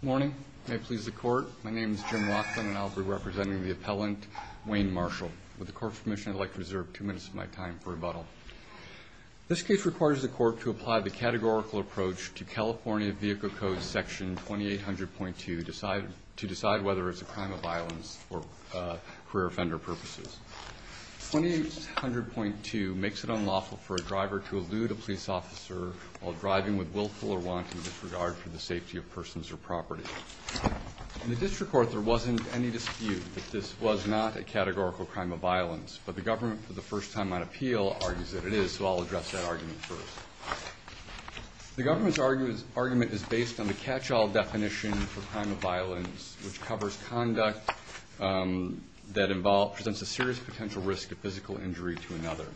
Good morning. May it please the court, my name is Jim Watson and I'll be representing the appellant, Wayne Marshall. With the court's permission, I'd like to reserve two minutes of my time for rebuttal. This case requires the court to apply the categorical approach to California Vehicle Code Section 2800.2 to decide whether it's a crime of violence for career offender purposes. 2800.2 makes it unlawful for a driver to elude a police officer while driving with willful or wanton disregard for the safety of persons or property. In the district court, there wasn't any dispute that this was not a categorical crime of violence, but the government, for the first time on appeal, argues that it is, so I'll address that argument first. The government's argument is based on the catch-all definition for crime of violence, which covers conduct that involves, presents a serious potential risk of physical injury to another.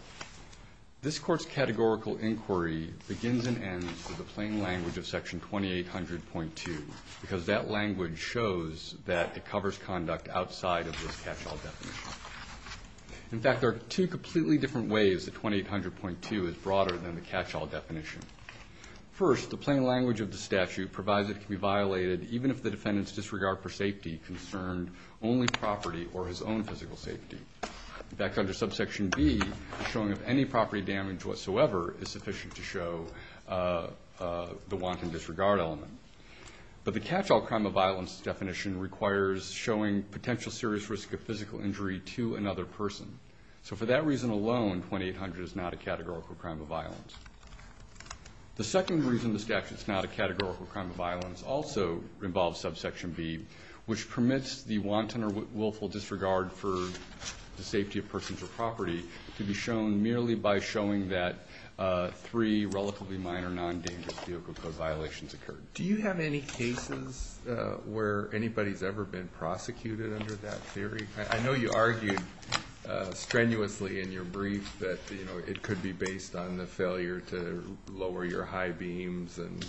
This court's categorical inquiry begins and ends with the plain language of Section 2800.2, because that language shows that it covers conduct outside of this catch-all definition. In fact, there are two completely different ways that 2800.2 is broader than the catch-all definition. First, the plain language of the statute provides it can be a defendant's disregard for safety concerned only property or his own physical safety. In fact, under subsection B, showing of any property damage whatsoever is sufficient to show the wanton disregard element. But the catch-all crime of violence definition requires showing potential serious risk of physical injury to another person. So for that reason alone, 2800 is not a categorical crime of violence. The second reason the statute's not a categorical crime of violence also involves subsection B, which permits the wanton or willful disregard for the safety of persons or property to be shown merely by showing that three relatively minor non-dangerous vehicle code violations occurred. Do you have any cases where anybody's ever been prosecuted under that theory? I know you argued strenuously in your brief that it could be based on the failure to lower your high beams and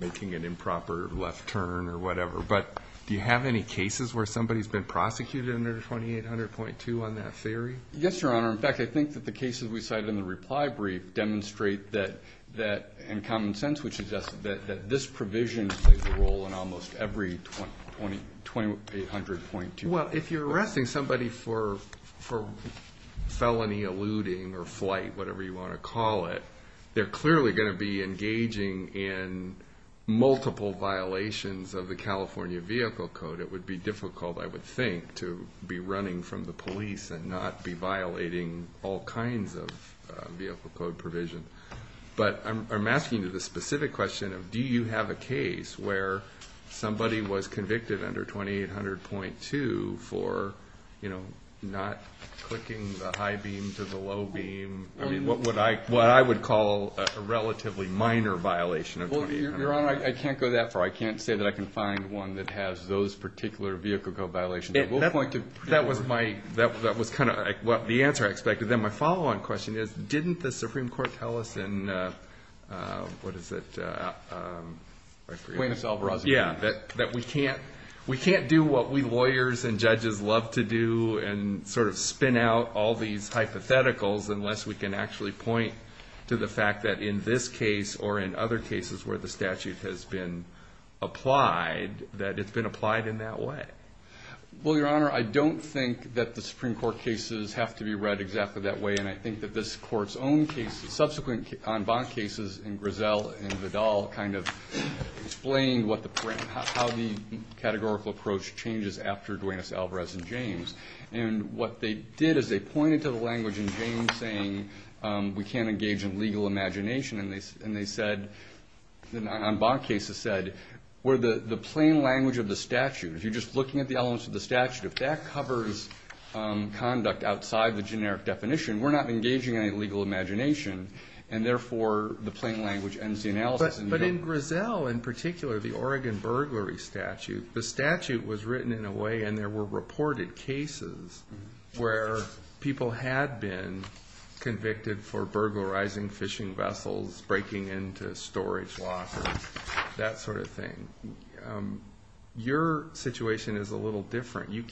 making an improper left turn or whatever. But do you have any cases where somebody's been prosecuted under 2800.2 on that theory? Yes, Your Honor. In fact, I think that the cases we cited in the reply brief demonstrate that, in common sense, we suggest that this provision plays a role in almost every 2800.2. If you're arresting somebody for felony eluding or flight, whatever you want to call it, they're clearly going to be engaging in multiple violations of the California Vehicle Code. It would be difficult, I would think, to be running from the police and not be violating all kinds of vehicle code provision. But I'm asking you the specific question of do you have a case where somebody was convicted under 2800.2 for not clicking the high beam to the low beam? I mean, what I would call a relatively minor violation of 2800. Well, Your Honor, I can't go that far. I can't say that I can find one that has those particular vehicle code violations. I will point to... That was kind of the answer I expected. Then my follow-on question is, didn't the Supreme Court tell us in... What is it? Quintus Alvarez. Yeah, that we can't do what we lawyers and judges love to do and sort of spin out all these hypotheticals unless we can actually point to the fact that in this case or in other cases where the statute has been applied, that it's been applied in that way. Well, Your Honor, I don't think that the Supreme Court cases have to be read exactly that way. And I think that this Court's own case, subsequent en banc cases in Griselle and Vidal kind of explained how the categorical approach changes after Duenas, Alvarez, and James. And what they did is they pointed to the language in James saying we can't engage in legal imagination. And they said, the en banc cases said, where the plain language of the statute, if you're just looking at the elements of the statute, if that covers conduct outside the generic definition, we're not engaging in any legal imagination. And therefore, the plain language ends the analysis in Vidal. But in Griselle in particular, the Oregon burglary statute, the statute was written in a way and there were reported cases where people had been convicted for burglarizing fishing vessels, breaking into storage lockers, that sort of thing. Your situation is a little different. You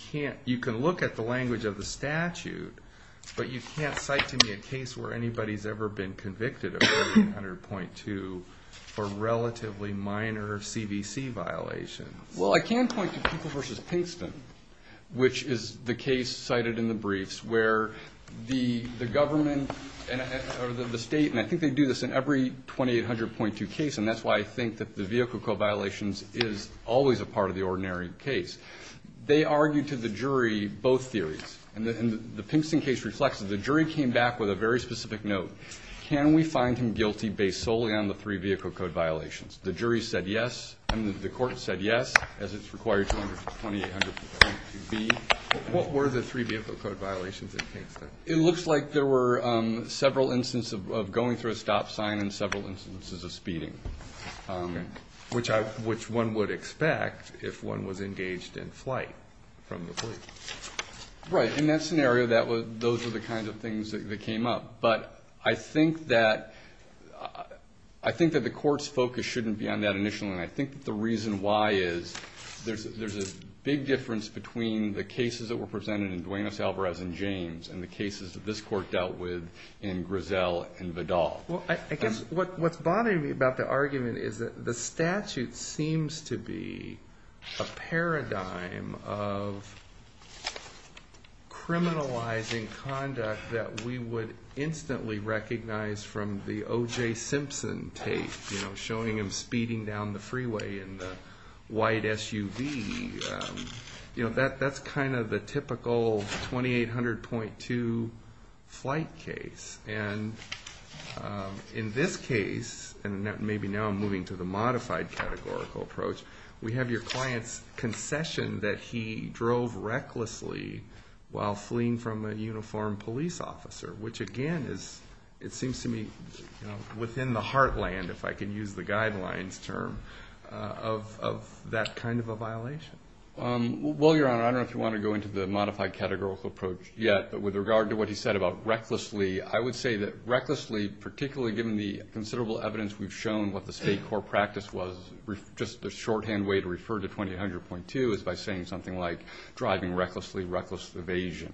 can look at the language of the statute, but you can't cite to me a case where anybody's ever been convicted of 2800.2 for relatively minor CVC violations. Well, I can point to Peoples v. Pinkston, which is the case cited in the briefs where the government or the state, and I think they do this in every 2800.2 case, and that's why I think that the vehicle code violations is always a part of the ordinary case. They argued to the jury both theories. And the Pinkston case reflects that the jury came back with a very specific note. Can we find him guilty based solely on the three vehicle code violations? The jury said yes, and the court said yes, as it's required for 2800.2B. What were the three vehicle code violations in Pinkston? It looks like there were several instances of going through a stop sign and several instances of speeding. Okay. Which one would expect if one was engaged in flight from the fleet. Right. In that scenario, those were the kinds of things that came up. But I think that the court's focus shouldn't be on that initially, and I think that the reason why is there's a big difference between the cases that were presented in Duenas-Alvarez and James and the cases that this court dealt with in Grizzell and Vidal. What's bothering me about the argument is that the statute seems to be a paradigm of criminalizing conduct that we would instantly recognize from the O.J. Simpson tape, showing him speeding down the freeway in the white SUV. That's kind of the typical 2800.2 flight case. And in this case, and maybe now I'm moving to the modified categorical approach, we have your client's concession that he drove recklessly while fleeing from a uniformed police officer, which, again, it seems to me within the heartland, if I can use the guidelines term, of that kind of a violation. Well, Your Honor, I don't know if you want to go into the modified categorical approach yet, but with regard to what he said about recklessly, I would say that recklessly, particularly given the considerable evidence we've shown what the state court practice was, just the shorthand way to refer to 2800.2 is by saying something like driving recklessly, reckless evasion.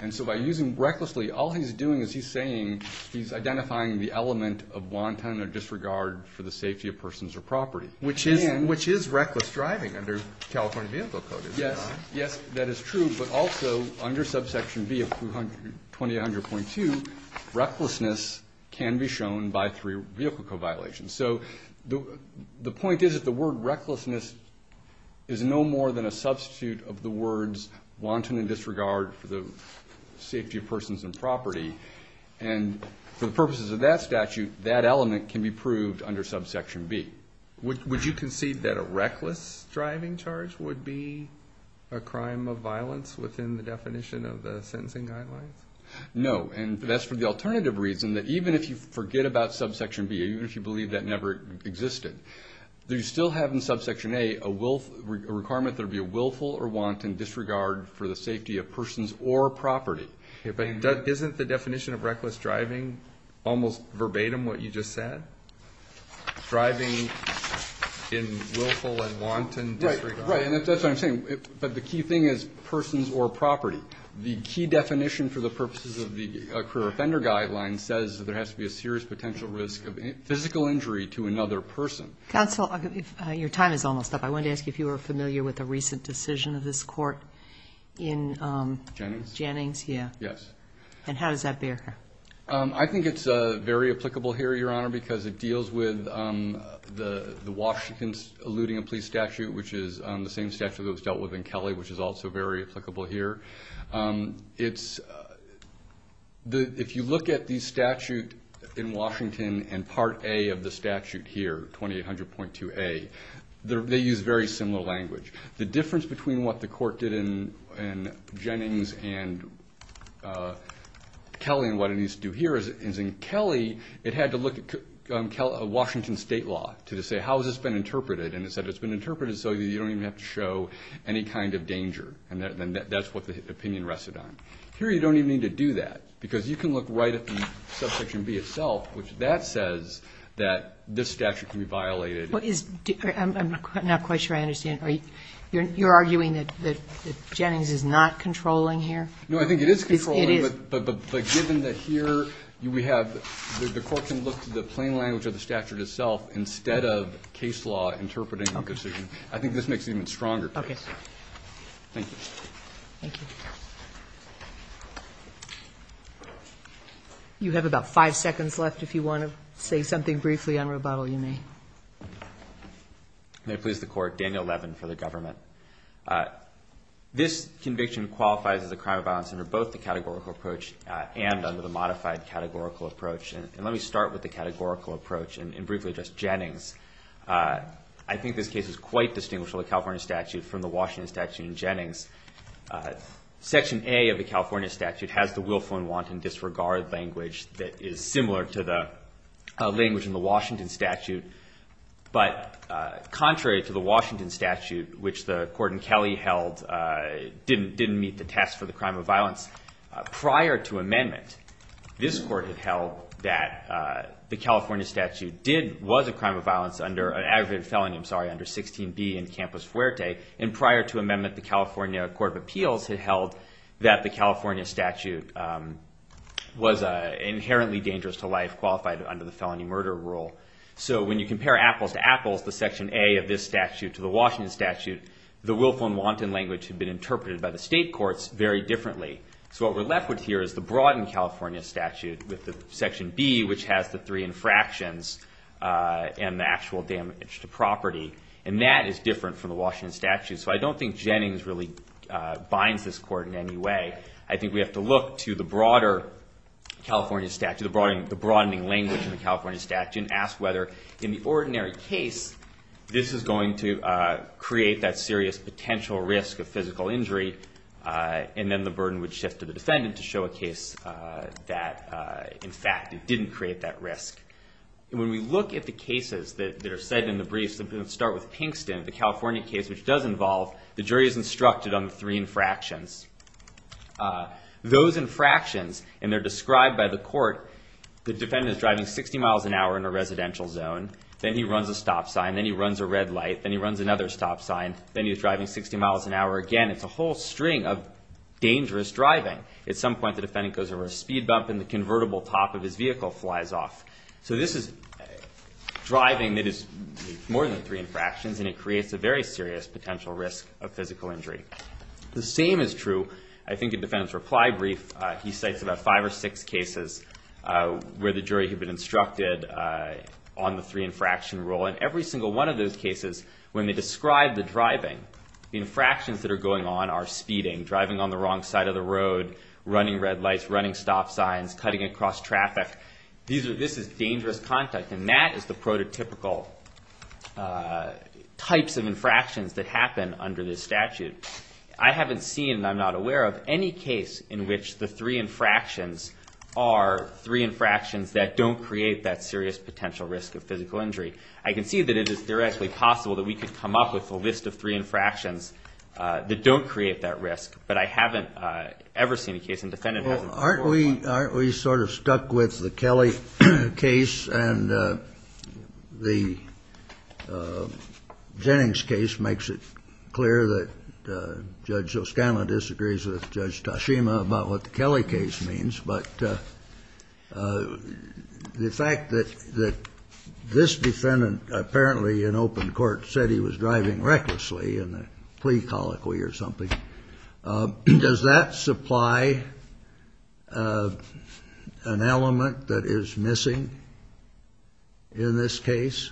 And so by using recklessly, all he's doing is he's saying he's identifying the element of wanton or disregard for the safety of persons or property. Which is reckless driving under California Vehicle Code, is that right? Yes, that is true, but also under subsection B of 2800.2, recklessness can be shown by three vehicle code violations. So the point is that the word recklessness is no more than a substitute of the words wanton and disregard for the safety of persons and property. And for the purposes of that statute, that element can be proved under subsection B. Would you concede that a reckless driving charge would be a crime of violence within the definition of the sentencing guidelines? No, and that's for the alternative reason that even if you forget about subsection B, even if you believe that never existed, you still have in subsection A a requirement that it would be a willful or wanton disregard for the safety of persons or property. But isn't the definition of reckless driving almost verbatim what you just said? Driving in willful and wanton disregard. Right, and that's what I'm saying. But the key thing is persons or property. The key definition for the purposes of the career offender guidelines says that there has to be a serious potential risk of physical injury to another person. Counsel, your time is almost up. I wanted to ask you if you were familiar with a recent decision of this court in... Jennings? Jennings, yeah. Yes. And how does that bear? I think it's very applicable here, Your Honor, because it deals with the Washington's Eluding and Please statute, which is the same statute that was dealt with in Kelly, which is also very applicable here. If you look at the statute in Washington and Part A of the statute here, 2800.2A, they use very similar language. The difference between what the court did in Jennings and Kelly and what it needs to do here is in Kelly, it had to look at Washington state law to say how has this been interpreted. And it said it's been interpreted so you don't even have to show any kind of danger. And that's what the opinion rested on. Here you don't even need to do that because you can look right at the Subsection B itself, which that says that this statute can be violated. I'm not quite sure I understand. You're arguing that Jennings is not controlling here? No, I think it is controlling. It is. But given that here we have the court can look to the plain language of the statute itself instead of case law interpreting the decision. Okay. I think this makes it even stronger. Okay. Thank you. Thank you. You have about five seconds left. If you want to say something briefly on rebuttal, you may. May it please the court, Daniel Levin for the government. This conviction qualifies as a crime of violence under both the categorical approach and under the modified categorical approach. And let me start with the categorical approach and briefly just Jennings. I think this case is quite distinguished from the California statute, from the Washington statute and Jennings. Section A of the California statute has the willful and wanton disregard language that is similar to the language in the Washington statute. But contrary to the Washington statute, which the court in Kelly held didn't meet the test for the crime of violence, prior to amendment this court had held that the California statute did, was a crime of violence under an aggravated felony, I'm sorry, under 16B in Campus Fuerte. And prior to amendment the California Court of Appeals had held that the was inherently dangerous to life, qualified under the felony murder rule. So when you compare apples to apples, the section A of this statute to the Washington statute, the willful and wanton language had been interpreted by the state courts very differently. So what we're left with here is the broadened California statute with the section B, which has the three infractions and the actual damage to property. And that is different from the Washington statute. So I don't think Jennings really binds this court in any way. I think we have to look to the broader California statute, the broadening language in the California statute, and ask whether in the ordinary case this is going to create that serious potential risk of physical injury, and then the burden would shift to the defendant to show a case that, in fact, it didn't create that risk. And when we look at the cases that are cited in the briefs, let's start with Pinkston, the California case, which does involve, the jury is instructed on the three infractions. Those infractions, and they're described by the court, the defendant is driving 60 miles an hour in a residential zone. Then he runs a stop sign. Then he runs a red light. Then he runs another stop sign. Then he's driving 60 miles an hour again. It's a whole string of dangerous driving. At some point, the defendant goes over a speed bump, and the convertible top of his vehicle flies off. So this is driving that is more than three infractions, and it creates a very serious potential risk of physical injury. The same is true, I think, in the defendant's reply brief. He cites about five or six cases where the jury had been instructed on the three infraction rule, and every single one of those cases, when they describe the driving, the infractions that are going on are speeding, driving on the wrong side of the road, running red lights, running stop signs, cutting across traffic. This is dangerous contact, and that is the prototypical types of infractions that happen under this statute. I haven't seen, and I'm not aware of, any case in which the three infractions are three infractions that don't create that serious potential risk of physical injury. I can see that it is theoretically possible that we could come up with a list of three infractions that don't create that risk, but I haven't ever seen a case, and the defendant hasn't. Aren't we sort of stuck with the Kelly case, and the Jennings case makes it clear that Judge O'Scanlan disagrees with Judge Tashima about what the Kelly case means, but the fact that this defendant apparently in open court said he was driving recklessly in a plea colloquy or something, does that supply an element that is missing in this case?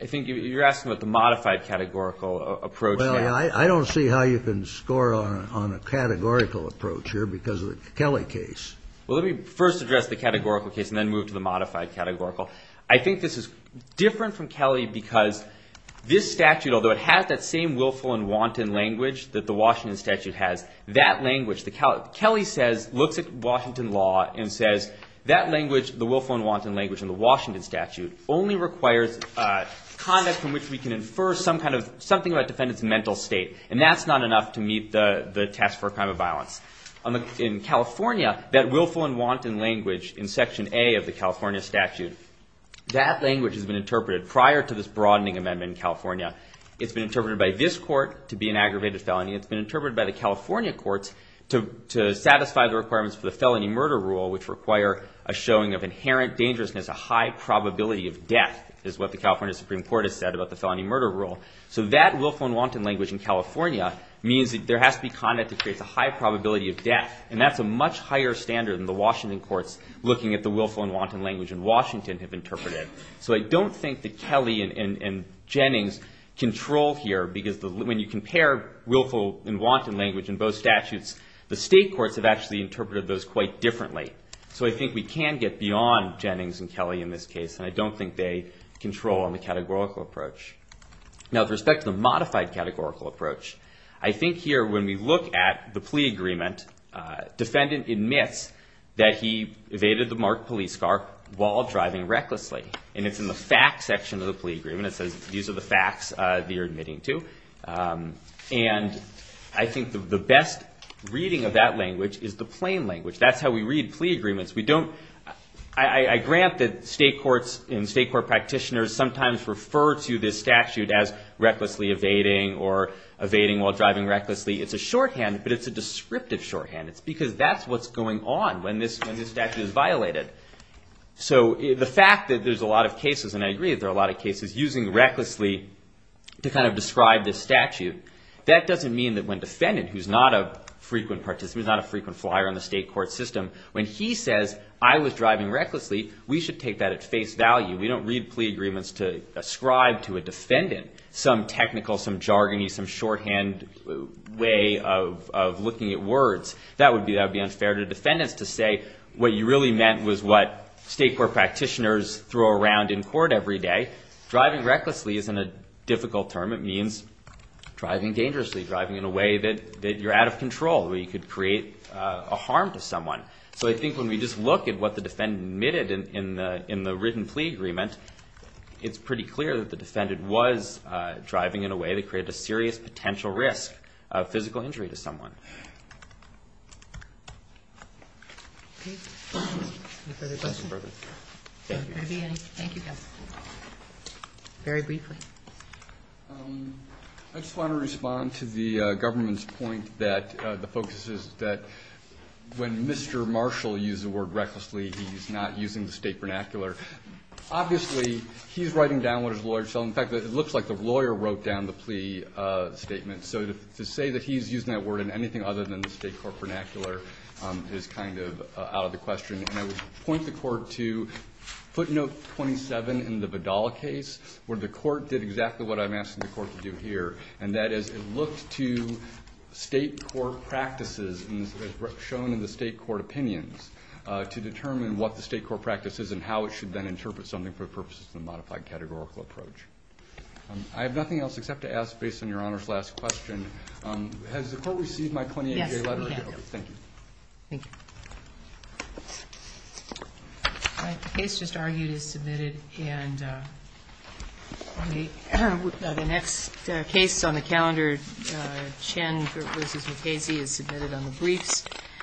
I think you're asking about the modified categorical approach. Well, I don't see how you can score on a categorical approach here because of the Kelly case. Well, let me first address the categorical case and then move to the modified categorical. I think this is different from Kelly because this statute, although it has that same willful and wanton language that the Washington statute has, that language, Kelly looks at Washington law and says that language, the willful and wanton language in the Washington statute, only requires conduct from which we can infer something about a defendant's mental state, and that's not enough to meet the test for a crime of violence. In California, that willful and wanton language in Section A of the California statute, that language has been interpreted prior to this broadening amendment in California. It's been interpreted by this court to be an aggravated felony. It's been interpreted by the California courts to satisfy the requirements for the felony murder rule, which require a showing of inherent dangerousness, a high probability of death, is what the California Supreme Court has said about the felony murder rule. So that willful and wanton language in California means that there has to be conduct that creates a high probability of death, and that's a much higher standard than the Washington courts looking at the willful and wanton language in Washington have interpreted. So I don't think that Kelly and Jennings control here, because when you compare willful and wanton language in both statutes, the state courts have actually interpreted those quite differently. So I think we can get beyond Jennings and Kelly in this case, and I don't think they control on the categorical approach. Now, with respect to the modified categorical approach, I think here when we look at the plea agreement, defendant admits that he evaded the marked police car while driving recklessly, and it's in the facts section of the plea agreement. It says these are the facts that you're admitting to, and I think the best reading of that language is the plain language. That's how we read plea agreements. I grant that state courts and state court practitioners sometimes refer to this statute as recklessly evading or evading while driving recklessly. It's a shorthand, but it's a descriptive shorthand. It's because that's what's going on when this statute is violated. So the fact that there's a lot of cases, and I agree that there are a lot of cases, using recklessly to kind of describe this statute, that doesn't mean that when defendant, who's not a frequent participant, who's not a frequent flyer on the state court system, when he says I was driving recklessly, we should take that at face value. We don't read plea agreements to ascribe to a defendant some technical, some jargony, some shorthand way of looking at words. That would be unfair to defendants to say what you really meant was what state court practitioners throw around in court every day. Driving recklessly isn't a difficult term. It means driving dangerously, driving in a way that you're out of control, where you could create a harm to someone. So I think when we just look at what the defendant admitted in the written plea agreement, it's pretty clear that the defendant was driving in a way that created a serious potential risk of physical injury to someone. Any further questions? Thank you. Thank you, counsel. Very briefly. I just want to respond to the government's point that the focus is that when Mr. Marshall used the word recklessly, he's not using the state vernacular. Obviously, he's writing down what his lawyers tell him. In fact, it looks like the lawyer wrote down the plea statement. So to say that he's using that word in anything other than the state court vernacular is kind of out of the question. And I would point the court to footnote 27 in the Vidal case, where the court did exactly what I'm asking the court to do here, and that is it looked to state court practices, as shown in the state court opinions, to determine what the state court practice is and how it should then interpret something for purposes of the modified categorical approach. I have nothing else except to ask, based on Your Honor's last question, has the court received my plenary letter? Yes, we have. Thank you. Thank you. All right. The case just argued is submitted. And the next case on the calendar, Chen v. Mukasey, is submitted on the briefs.